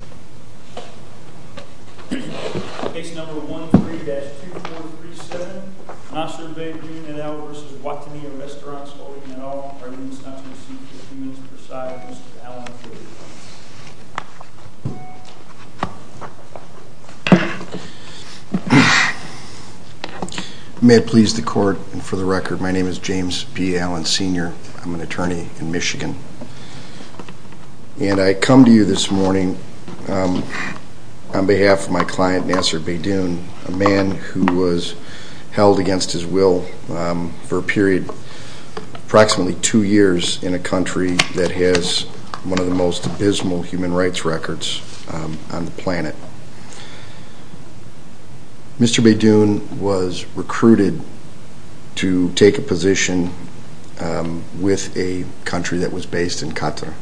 at all, arguing it's not to be seen for a few minutes per side. Mr. Allen, the floor is yours. May it please the court, and for the record, my name is James P. Allen, Sr. I'm an attorney in Michigan. And I come to you this morning support of the Nasser Beydoun v. Wataniya Restaurants Holding at all. On behalf of my client, Nasser Beydoun, a man who was held against his will for a period approximately two years in a country that has one of the most abysmal human rights records on the planet. Mr. Beydoun was recruited to take a position with a country that was based in Qatar.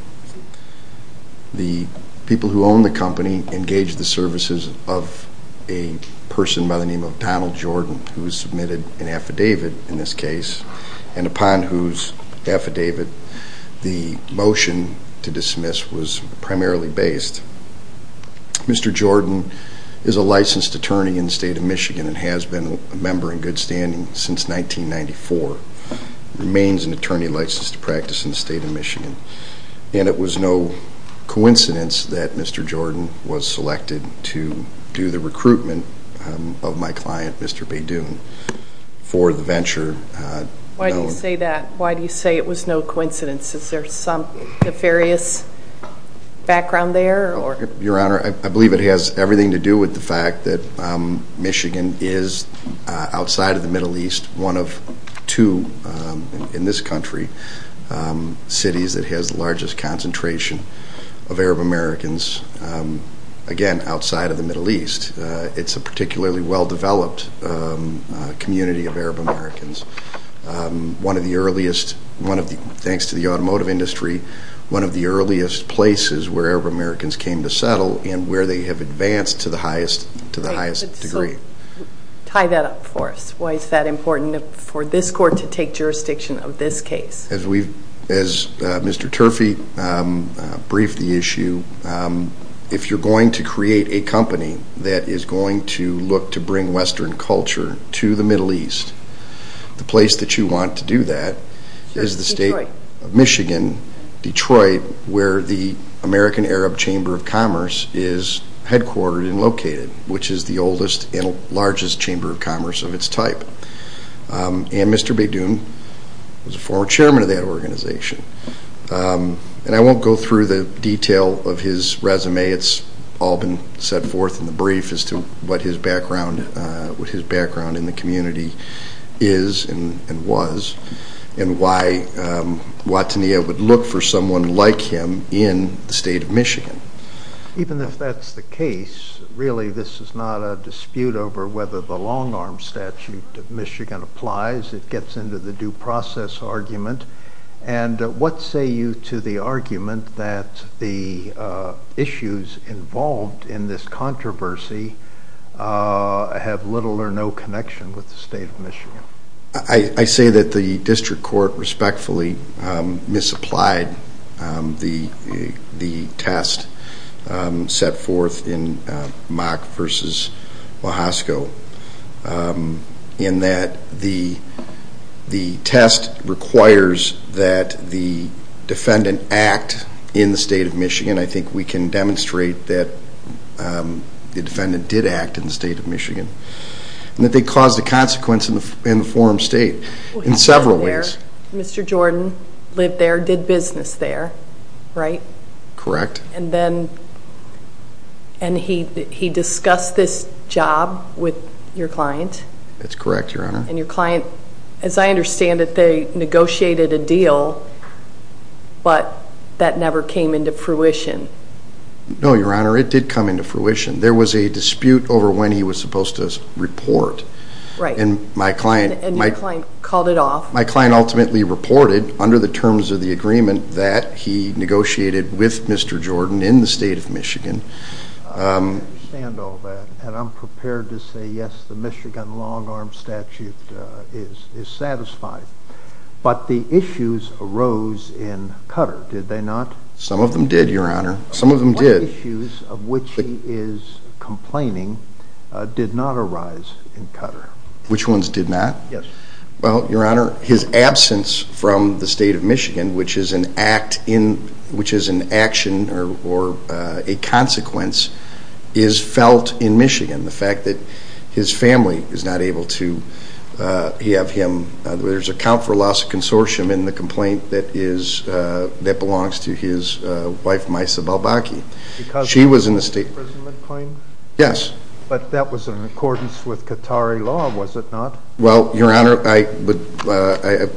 The people who owned the company engaged the services of a person by the name of Donald Jordan who was submitted an affidavit in this case, and upon whose affidavit the motion to dismiss was primarily based. Mr. Jordan is a licensed attorney in the state of Michigan and has been a member in good standing since 1994. He remains an attorney licensed to and it was no coincidence that Mr. Jordan was selected to do the recruitment of my client, Mr. Beydoun for the venture. Why do you say that? Why do you say it was no coincidence? Is there some nefarious background there? Your Honor, I believe it has everything to do with the fact that Michigan is, outside of the Middle East, one of two in this country cities that has the largest concentration of Arab Americans again, outside of the Middle East. It's a particularly well developed community of Arab Americans. Thanks to the automotive industry, one of the earliest places where Arab Americans came to settle and where they have advanced to the highest degree. Tie that up for us. Why is that important for this court to take jurisdiction of this case? As Mr. Turfey briefed the issue, if you're going to create a company that is going to look to bring western culture to the Middle East, the place that you want to do that is the state of Michigan, Detroit, where the American Arab Chamber of Commerce is headquartered and located, which is the oldest and largest chamber of commerce of its type. Mr. Beydoun was a former chairman of that organization. I won't go through the detail of his resume. It's all been set forth in the brief as to what his background in the community is and was, and why Watania would look for someone like him in the state of Michigan. Even if that's the case, really this is not a dispute over whether the long arm statute of Michigan applies. It gets into the due process argument. What say you to the argument that the issues involved in this controversy have little or no connection with the state of Michigan? I say that the district court respectfully misapplied the test set forth in Mahasco in that the test requires that the defendant act in the state of Michigan. I think we can demonstrate that the defendant did act in the state of Michigan and that they caused a consequence in the forum state in several ways. Mr. Jordan lived there, did business there, right? Correct. And he discussed this job with your client? That's correct, Your Honor. As I understand it, they negotiated a deal, but that never came into fruition. No, Your Honor. It did come into fruition. There was a dispute over when he was supposed to report. Right. And your client called it off. My client ultimately reported, under the terms of the agreement, that he negotiated with Mr. Jordan in the state of Michigan. I understand all that, and I'm prepared to say yes, the Michigan long-arm statute is satisfied. But the issues arose in Qatar, did they not? Some of them did, Your Honor. Some of them did. The issues of which he is complaining did not arise in Qatar. Which ones did not? Yes. Well, Your Honor, his absence from the state of Michigan, which is an action or a consequence, is felt in Michigan. The fact that his family is not able to have him. There's a count for loss of consortium in the complaint that belongs to his wife, Misa Balbaki. Because she was in the state prison when he complained? Yes. But that was in accordance with Qatari law, was it not? Well, Your Honor, I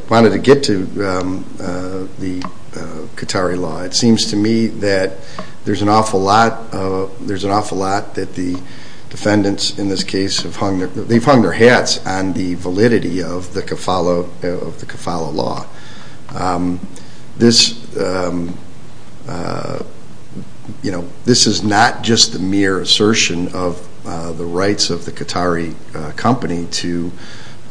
wanted to get to the Qatari law. It seems to me that there's an awful lot that the defendants in this case have hung their hats on the validity of the Qatari law. This is not just the mere assertion of the rights of the Qatari company to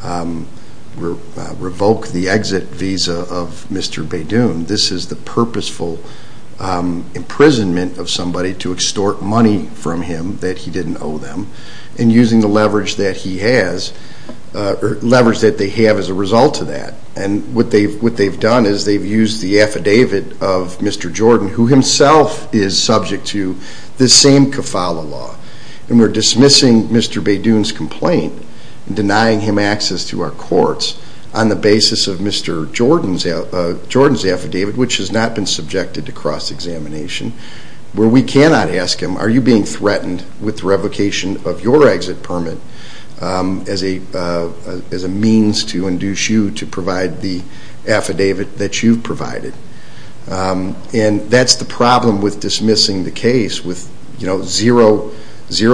revoke the exit visa of Mr. Beydoun. This is the purposeful imprisonment of somebody to extort money from him that he didn't owe them. And using the leverage that he has, or leverage that they have as a result of that. And what they've done is they've used the affidavit of Mr. Jordan, who himself is subject to the same Qatari law. And we're dismissing Mr. Beydoun's complaint and denying him access to our courts on the basis of Mr. Jordan's affidavit, which has not been subjected to cross-examination, where we cannot ask him, are you being threatened with the revocation of your exit permit as a means to induce you to provide the affidavit that you've provided? And that's the problem with dismissing the case with zero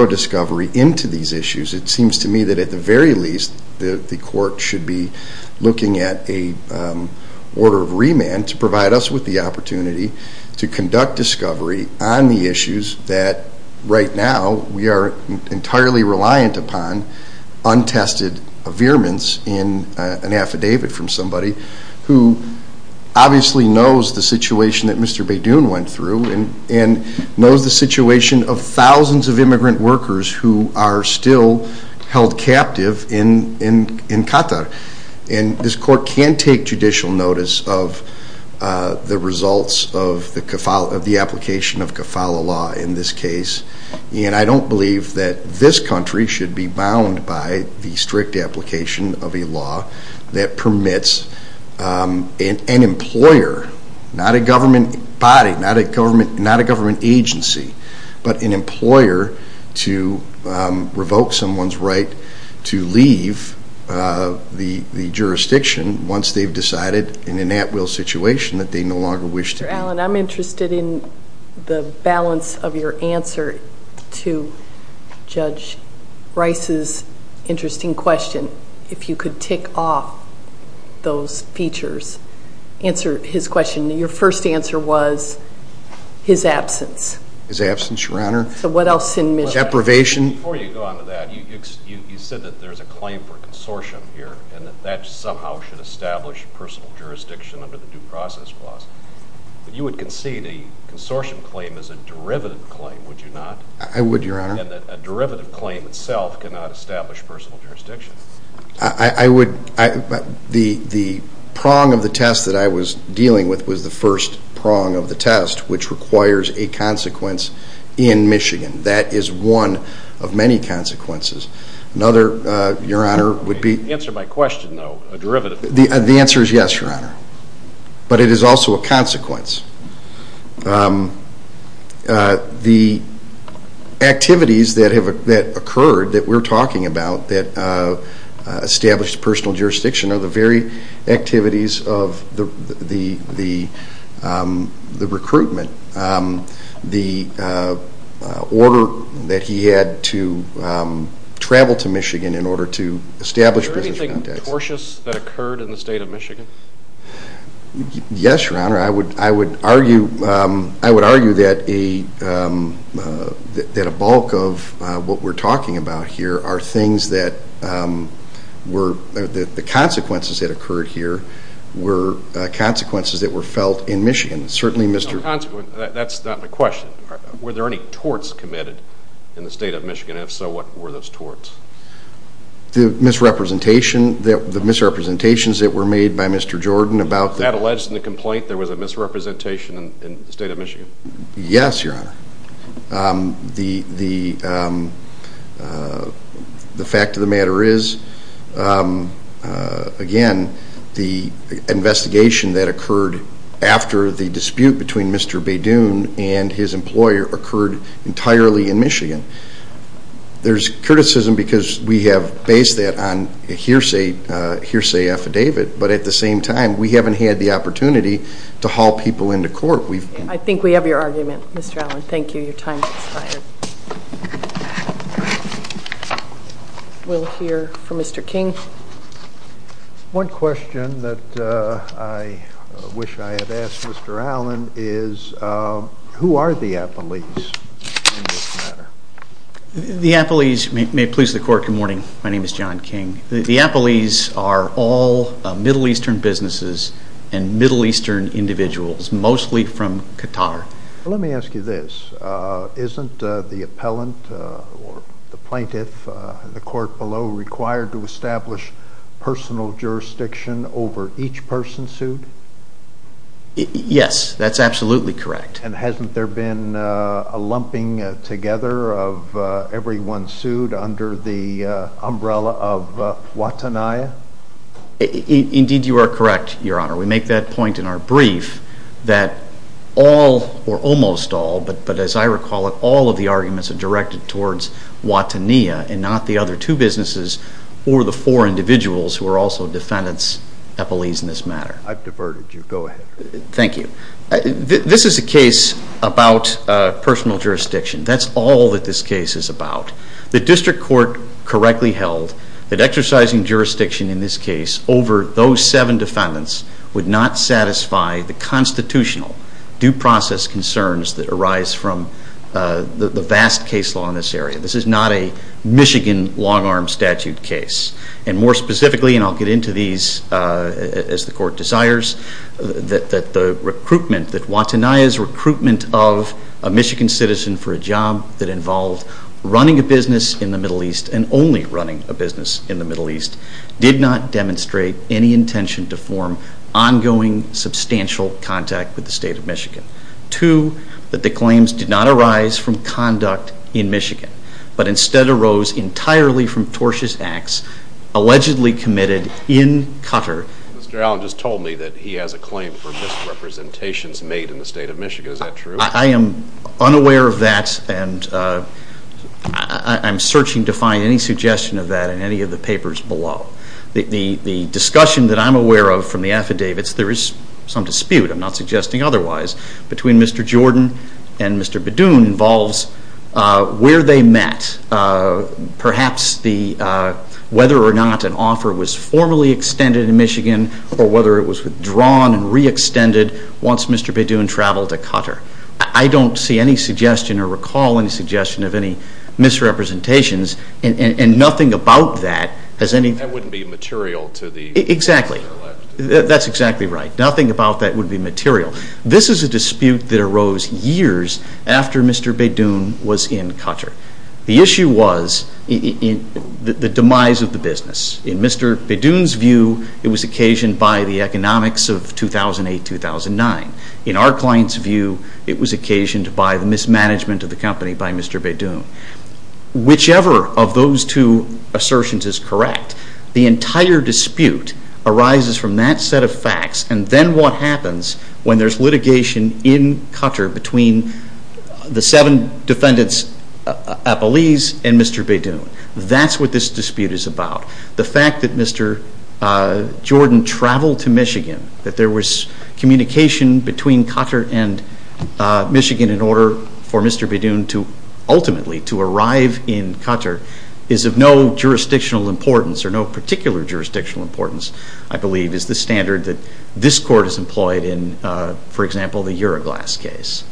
discovery into these issues. It seems to me that at the very least the court should be looking at a order of remand to provide us with the opportunity to conduct discovery on the issues that right now we are entirely reliant upon untested veerments in an affidavit from somebody knows the situation that Mr. Beydoun went through and knows the situation of thousands of immigrant workers who are still held captive in Qatar. And this court can take judicial notice of the results of the application of kafala law in this case. And I don't believe that this country should be bound by the strict application of a law that permits an employer, not a government body, not a government agency, but an employer to revoke someone's right to leave the jurisdiction once they've decided in an at-will situation that they no longer wish to be. Mr. Allen, I'm interested in the balance of your answer to Judge Rice's interesting question. If you could tick off those features, answer his question. Your first answer was his absence. His absence, Your Honor. So what else? Deprivation. Before you go on to that, you said that there's a claim for consortium here and that that somehow should establish personal jurisdiction under the due process clause. But you would concede a consortium claim is a derivative claim, would you not? I would, Your Honor. And that a derivative claim itself cannot establish personal jurisdiction. I would. The prong of the test that I was dealing with was the first prong of the test, which requires a consequence in Michigan. That is one of many consequences. Another, Your Honor, would be... Answer my question, though. A derivative claim. The answer is yes, Your Honor. But it is also a consequence. The activities that occurred that we're talking about, that established personal jurisdiction are the very activities of the recruitment. The order that he had to travel to Michigan in order to establish business contacts. Was there anything tortuous that occurred in the state of Michigan? Yes, Your Honor. I would argue that a bulk of what we're talking about here are things that were... the consequences that occurred here were consequences that were felt in Michigan. Certainly Mr... That's not my question. Were there any torts committed in the state of Michigan? And if so, what were those torts? The misrepresentation that... the misrepresentations that were made by Mr. Jordan about... That alleged in the complaint there was a misrepresentation in the state of Michigan? Yes, Your Honor. The fact of the matter is again the investigation that occurred after the dispute between Mr. Badoon and his employer occurred entirely in Michigan. There's criticism because we have based that on a hearsay affidavit, but at the same time we haven't had the opportunity to haul people into court. I think we have your argument, Mr. Allen. Thank you. Your time has expired. We'll hear from Mr. King. One question that I wish I had asked Mr. Allen is who are the Appleys in this matter? The Appleys, may it please the court, good morning. My name is John King. The Appleys are all Middle Eastern businesses and Middle Eastern individuals, mostly from Qatar. Let me ask you this. Isn't the appellant or the plaintiff in the court below required to establish personal jurisdiction over each person sued? Yes, that's absolutely correct. And hasn't there been a lumping together of everyone sued under the umbrella of Watanaya? Indeed you are correct, Your Honor. We make that point in our brief that all, or almost all, but as I recall it, all of the arguments are directed towards Watanaya and not the other two businesses or the four individuals who are also defendants, Appleys in this matter. I've diverted you. Go ahead. Thank you. This is a case about personal jurisdiction. That's all that this case is about. The district court correctly held that exercising jurisdiction in this case over those seven defendants would not satisfy the constitutional due process concerns that arise from the vast case law in this area. This is not a Michigan long-arm statute case. And more specifically, and I'll get into these as the court desires, that the recruitment, that Watanaya's recruitment of a Michigan citizen for a job that involved running a business in the Middle East and only running a business in the Middle East did not demonstrate any intention to form ongoing substantial contact with the state of Michigan. Two, that the claims did not arise from conduct in Michigan, but instead arose entirely from tortious acts allegedly committed in Qatar. Mr. Allen just told me that he has a claim for misrepresentations made in the state of Michigan. Is that true? I am unaware of that and I'm searching to find any suggestion of that in any of the papers below. The discussion that I'm aware of from the affidavits, there is some dispute, I'm not suggesting otherwise, between Mr. Jordan and Mr. Badoon involves where they met. Perhaps whether or not an offer was formally extended in Michigan or whether it was withdrawn and re-extended once Mr. Badoon traveled to Qatar. I don't see any suggestion or recall any suggestion of any misrepresentations and nothing about that has any... That wouldn't be material to the... Exactly. That's exactly right. Nothing about that would be material. This is a dispute that arose years after Mr. Badoon was in Qatar. The issue was the demise of the business. In Mr. Badoon's view, it was occasioned by the economics of 2008-2009. In our client's view, it was occasioned by the mismanagement of the company by Mr. Badoon. Whichever of those two assertions is correct, the entire dispute arises from that set of facts and then what happens when there's litigation in Qatar between the seven defendants at Belize and Mr. Badoon. That's what this dispute is about. The fact that Mr. Jordan traveled to Michigan, that there was communication between Qatar and Michigan in order for Mr. Badoon to ultimately to arrive in Qatar is of no jurisdictional importance or no particular jurisdictional importance I believe is the standard that this court has employed in for example, the Euroglass case.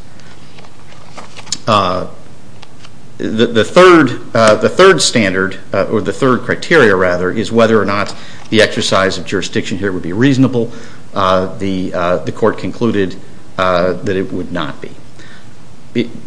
The third standard, or the third criteria rather, is whether or not the exercise of jurisdiction here would be reasonable. The court concluded that it would not be.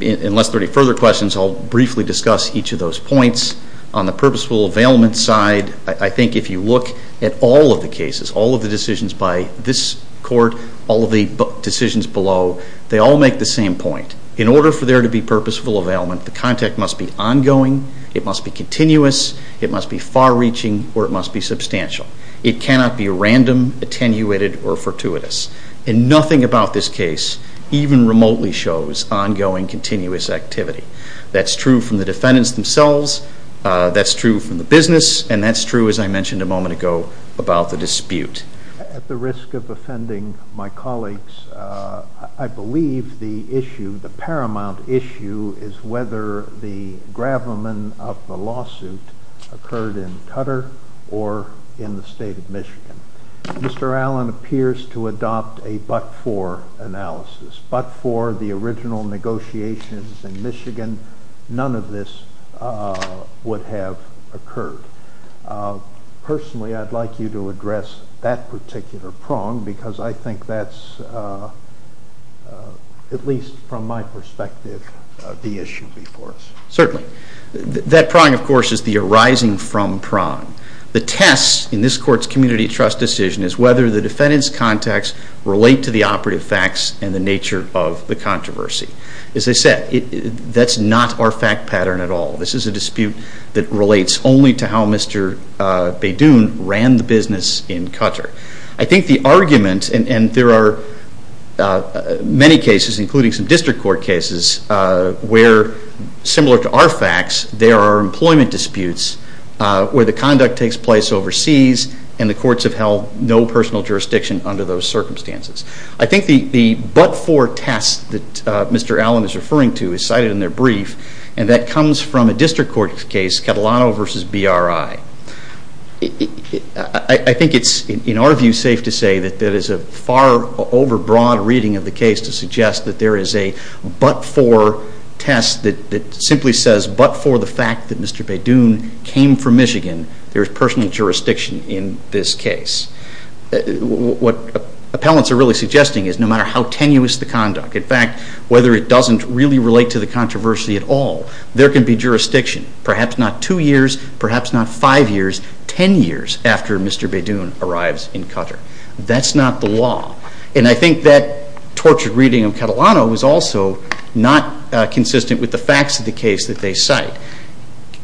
Unless there are any further questions, I'll briefly discuss each of those points. On the purposeful availment side, I think if you look at all of the cases, all of the decisions by this court, all of the decisions below, they all make the same point. In order for there to be purposeful availment, the contact must be ongoing, it must be continuous, it must be far-reaching or it must be substantial. It cannot be random, attenuated, or without this case, even remotely shows ongoing, continuous activity. That's true from the defendants themselves, that's true from the business, and that's true, as I mentioned a moment ago, about the dispute. At the risk of offending my colleagues, I believe the issue, the paramount issue, is whether the gravamen of the lawsuit occurred in Qatar or in the state of Michigan. Mr. Allen appears to adopt a but-for analysis. But for the original negotiations in Michigan, none of this would have occurred. Personally, I'd like you to address that particular prong, because I think that's at least from my perspective the issue before us. Certainly. That prong, of course, is the arising from prong. The test in this court's community trust decision is whether the defendants' contacts relate to the operative facts and the nature of the controversy. As I said, that's not our fact pattern at all. This is a dispute that relates only to how Mr. Beydoun ran the business in Qatar. I think the argument, and there are many cases, including some district court cases, where, similar to our facts, there are employment disputes where the conduct takes place overseas, and the courts have held no personal jurisdiction under those circumstances. I think the but-for test that Mr. Allen is referring to is cited in their brief, and that comes from a district court case, Catalano v. BRI. I think it's, in our view, safe to say that there is a far over-broad reading of the case to suggest that there is a but-for test that simply says but-for the fact that Mr. Beydoun came from Michigan, there is personal jurisdiction in this case. What appellants are really suggesting is no matter how tenuous the conduct, in fact, whether it doesn't really relate to the controversy at all, there can be jurisdiction perhaps not two years, perhaps not five years, ten years after Mr. Beydoun arrives in Qatar. That's not the law, and I think that tortured reading of Catalano was also not consistent with the facts of the case that they referred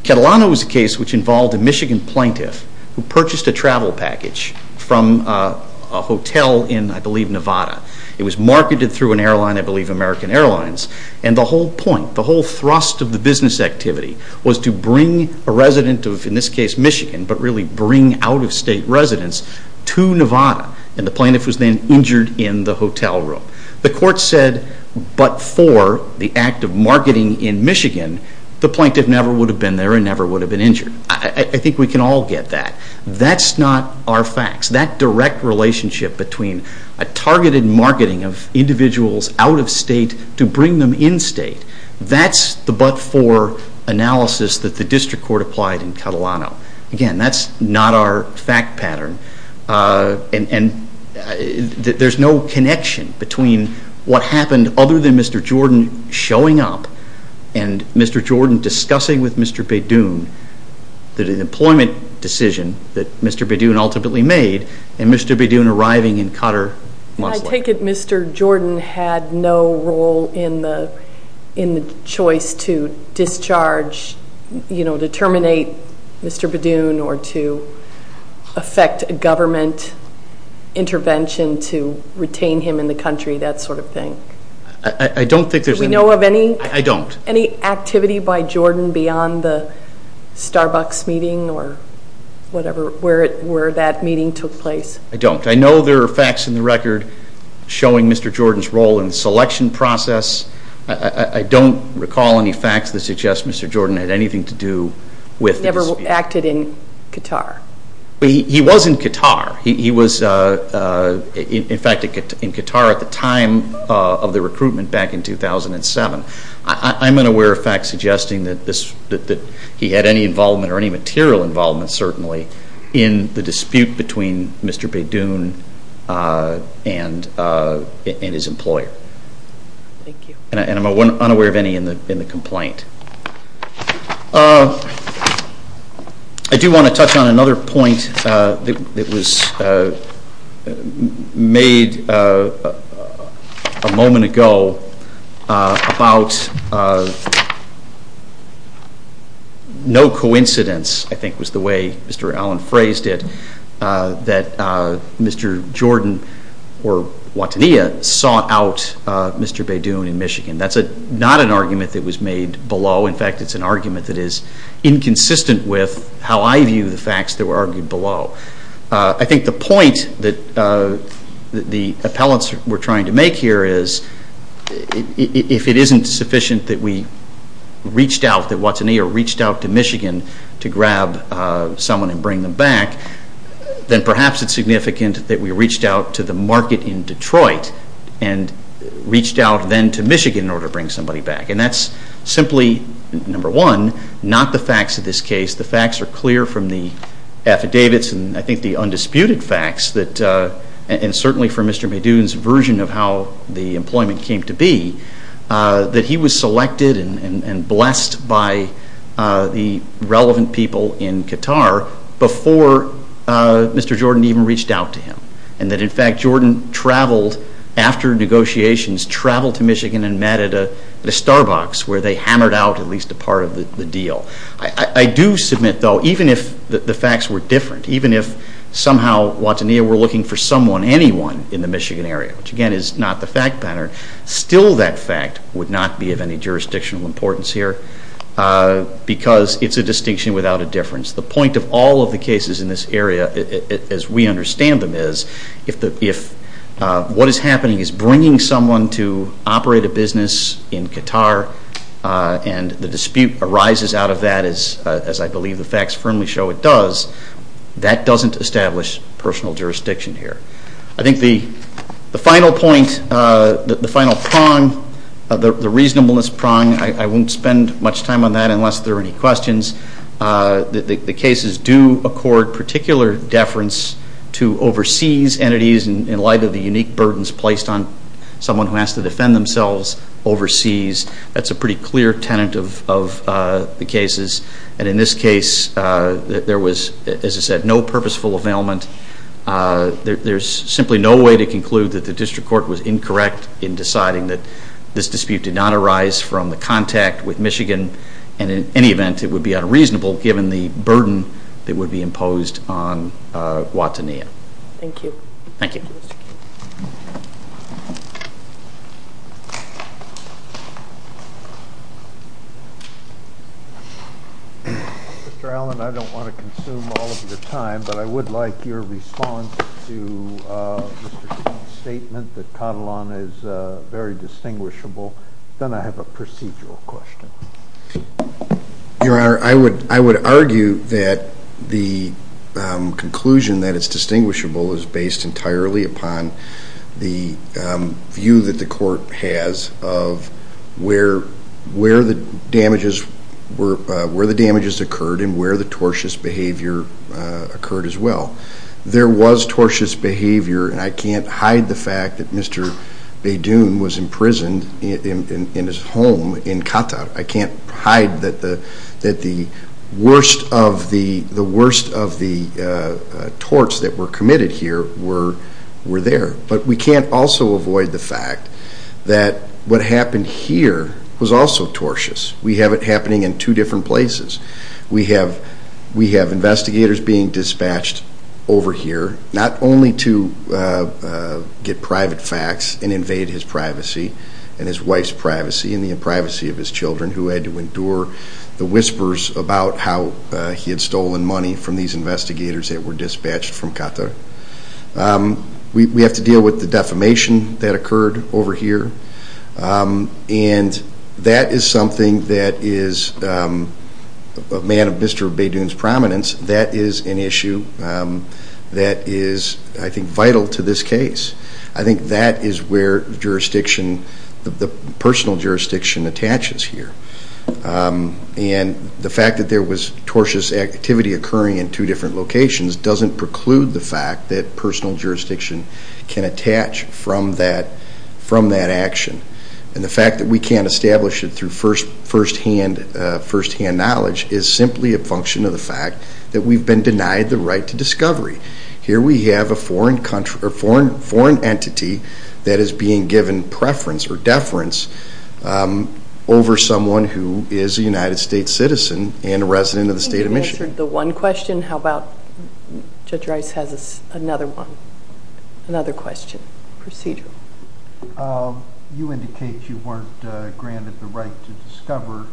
to. There was a case which involved a Michigan plaintiff who purchased a travel package from a hotel in, I believe, Nevada. It was marketed through an airline, I believe American Airlines, and the whole point, the whole thrust of the business activity was to bring a resident of, in this case, Michigan, but really bring out-of-state residents to Nevada, and the plaintiff was then injured in the hotel room. The court said but-for the act of marketing in an injured. I think we can all get that. That's not our facts. That direct relationship between a targeted marketing of individuals out-of-state to bring them in-state, that's the but-for analysis that the district court applied in Catalano. Again, that's not our fact pattern, and there's no connection between what happened other than Mr. Jordan showing up, and Mr. Jordan discussing with Mr. Bedoon the employment decision that Mr. Bedoon ultimately made, and Mr. Bedoon arriving in Cotter-Muswell. I take it Mr. Jordan had no role in the choice to discharge, you know, to terminate Mr. Bedoon, or to affect a government intervention to retain him in the country, that sort of thing. I don't think there's any... Do we know of any? I don't. Any activity by Jordan beyond the Starbucks meeting or whatever where that meeting took place? I don't. I know there are facts in the record showing Mr. Jordan's role in the selection process. I don't recall any facts that suggest Mr. Jordan had anything to do with the dispute. He never acted in Qatar. He was in Qatar. He was in fact in Qatar at the time of the recruitment back in 2007. I'm unaware of facts suggesting that he had any involvement or any material involvement, certainly, in the dispute between Mr. Bedoon and his employer. And I'm unaware of any in the complaint. I do want to touch on another point that was made a moment ago about no coincidence, I think was the way Mr. Allen phrased it, that Mr. Jordan or Watania sought out Mr. Bedoon in Michigan. That's not an argument that was made below. In fact, it's an argument that is inconsistent with how I view the facts that were argued below. I think the point that the appellants were trying to make here is if it isn't sufficient that we reached out, that Watania reached out to Michigan to grab someone and bring them back, then perhaps it's significant that we reached out to the market in Detroit and reached out then to Michigan in order to bring somebody back. And that's simply, number one, not the facts of this case. The facts are clear from the affidavits and I think the undisputed facts and certainly from Mr. Bedoon's version of how the employment came to be, that he was selected and blessed by the relevant people in Qatar before Mr. Jordan even reached out to him. And that in fact Jordan traveled, after negotiations, traveled to Michigan and met at a Starbucks where they hammered out at least a part of the deal. I do submit, though, even if the facts were different, even if somehow Watania were looking for someone, anyone, in the Michigan area, which again is not the fact pattern, still that fact would not be of any jurisdictional importance here because it's a distinction without a difference. The point of all of the cases in this area as we understand them is if what is happening is bringing someone to operate a business in Qatar and the dispute arises out of that, as I believe the facts firmly show it does, that doesn't establish personal jurisdiction here. I think the final point, the final prong, the reasonableness prong, I won't spend much time on that unless there are any questions. The cases do accord particular deference to overseas entities in light of the unique burdens placed on someone who has to defend themselves overseas. That's a pretty clear tenant of the cases and in this case there was, as I said, no purposeful availment. There's simply no way to conclude that the District Court was incorrect in deciding that this dispute did not arise from the contact with Michigan and in any event it would be unreasonable given the burden that would be imposed on Watania. Thank you. Mr. Allen, I don't want to consume all of your time, but I would like your response to Mr. King's statement that Katalon is very distinguishable. Then I have a procedural question. Your Honor, I would argue that the conclusion that it's distinguishable is based entirely upon the view that the Court has of where the damages occurred and where the tortious behavior occurred as well. There was tortious behavior and I can't hide the fact that Mr. Beydoun was imprisoned in his home in Qatar. I can't hide that the worst of the torts that were committed here were there. But we can't also avoid the fact that what happened here was also tortious. We have it happening in two different places. We have investigators being dispatched over here, not only to get private facts and invade his privacy and his wife's privacy and the privacy of his children who had to endure the whispers about how he had stolen money from these investigators that were dispatched from Qatar. We have to deal with the defamation that occurred over here and that is something that is a man of Mr. Beydoun's prominence. That is an issue that is, I think, vital to this case. I think that is where the jurisdiction, the personal jurisdiction attaches here. The fact that there was tortious activity occurring in two different locations doesn't preclude the fact that we can't detach from that action. And the fact that we can't establish it through first-hand knowledge is simply a function of the fact that we've been denied the right to discovery. Here we have a foreign entity that is being given preference or deference over someone who is a United States citizen and a resident of the state of Michigan. I think you've answered the one question. How about, Judge Rice has another one. Another question. Procedural. You indicate you weren't granted the right to discover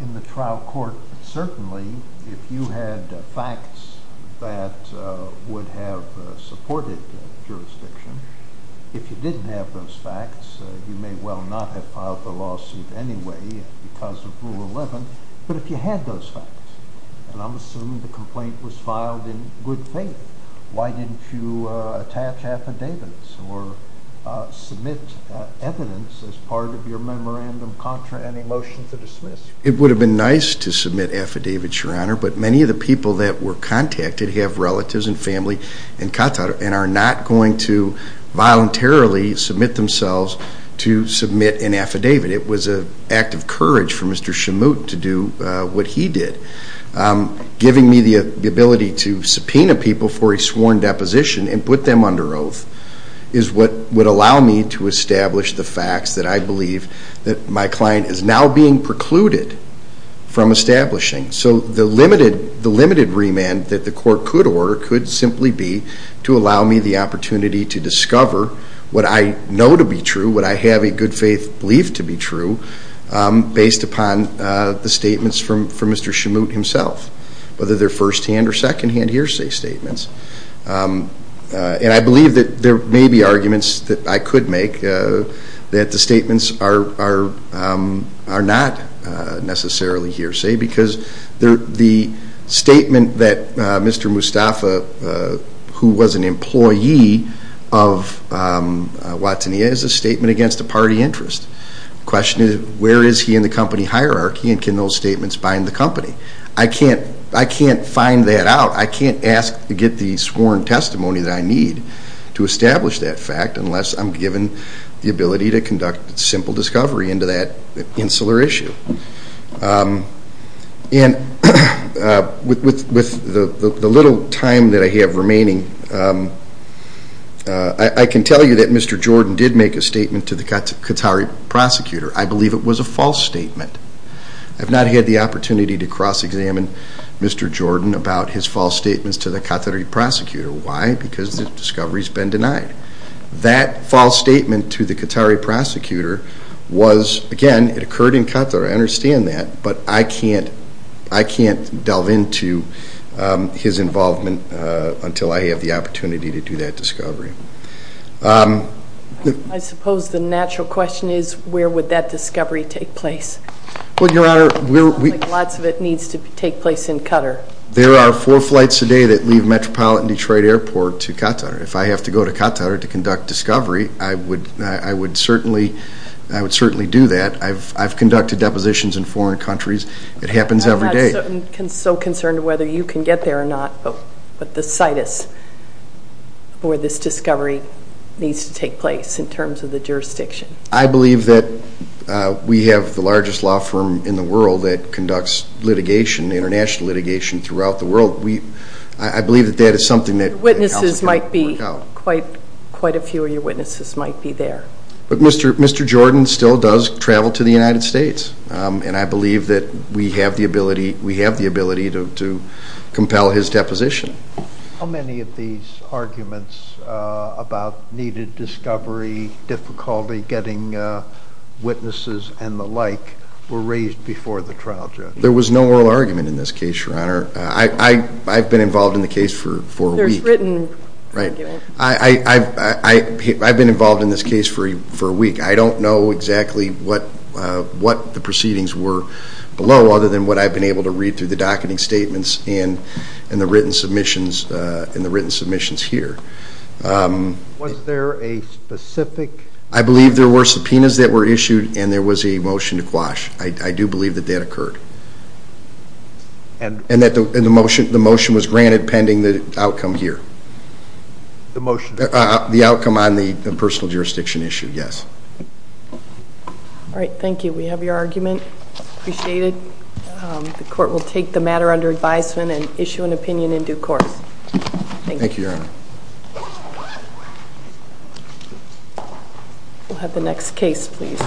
in the trial court. Certainly if you had facts that would have supported jurisdiction. If you didn't have those facts, you may well not have filed the lawsuit anyway because of Rule 11. But if you had those facts, and I'm assuming the complaint was filed in good faith, why didn't you attach affidavits or submit evidence as part of your memorandum contra and a motion to dismiss? It would have been nice to submit affidavits, Your Honor, but many of the people that were contacted have relatives and family in Qatar and are not going to voluntarily submit themselves to submit an affidavit. It was an act of courage for Mr. Shamut to do what he did. Giving me the ability to subpoena people for a sworn deposition and put them under oath is what would allow me to establish the facts that I believe that my client is now being precluded from establishing. The limited remand that the court could order could simply be to allow me the opportunity to discover what I know to be true, what I have a good faith to be true, based upon the statements from Mr. Shamut himself, whether they're first-hand or second-hand hearsay statements. I believe that there may be arguments that I could make that the statements are not necessarily hearsay because the statement that Mr. Mustafa, who was an employee of Watania, is a statement against a party interest. The question is, where is he in the company hierarchy and can those statements bind the company? I can't find that out. I can't ask to get the sworn testimony that I need to establish that fact unless I'm given the ability to conduct simple discovery into that insular issue. With the little time that I have remaining, I can tell you that Mr. Jordan did make a statement to the Qatari prosecutor. I believe it was a false statement. I've not had the opportunity to cross-examine Mr. Jordan about his false statements to the Qatari prosecutor. Why? Because the discovery has been denied. That false statement to the Qatari prosecutor was, again, it occurred in Qatar, I understand that, but I can't delve into his false statements. I have not had the opportunity to do that discovery. I suppose the natural question is, where would that discovery take place? Lots of it needs to take place in Qatar. There are four flights a day that leave Metropolitan Detroit Airport to Qatar. If I have to go to Qatar to conduct discovery, I would certainly do that. I've conducted depositions in foreign countries, but the situs for this discovery needs to take place in terms of the jurisdiction. I believe that we have the largest law firm in the world that conducts litigation, international litigation, throughout the world. I believe that that is something that helps work out. Quite a few of your witnesses might be there. Mr. Jordan still does travel to the United States. I believe that we have the ability to compel his deposition. How many of these arguments about needed discovery, difficulty getting witnesses and the like were raised before the trial judge? There was no oral argument in this case, Your Honor. I've been involved in the case for a week. There's written argument. I've been involved in this case for a week. I don't know exactly what the proceedings were below, other than what I've been able to read through the docketing statements and the written submissions here. Was there a specific... I believe there were subpoenas that were issued and there was a motion to quash. I do believe that that occurred. The motion was granted pending the outcome here. The outcome on the personal jurisdiction issue, yes. Thank you. Do we have your argument? Appreciate it. The court will take the matter under advisement and issue an opinion in due course. Thank you, Your Honor. We'll have the next case, please.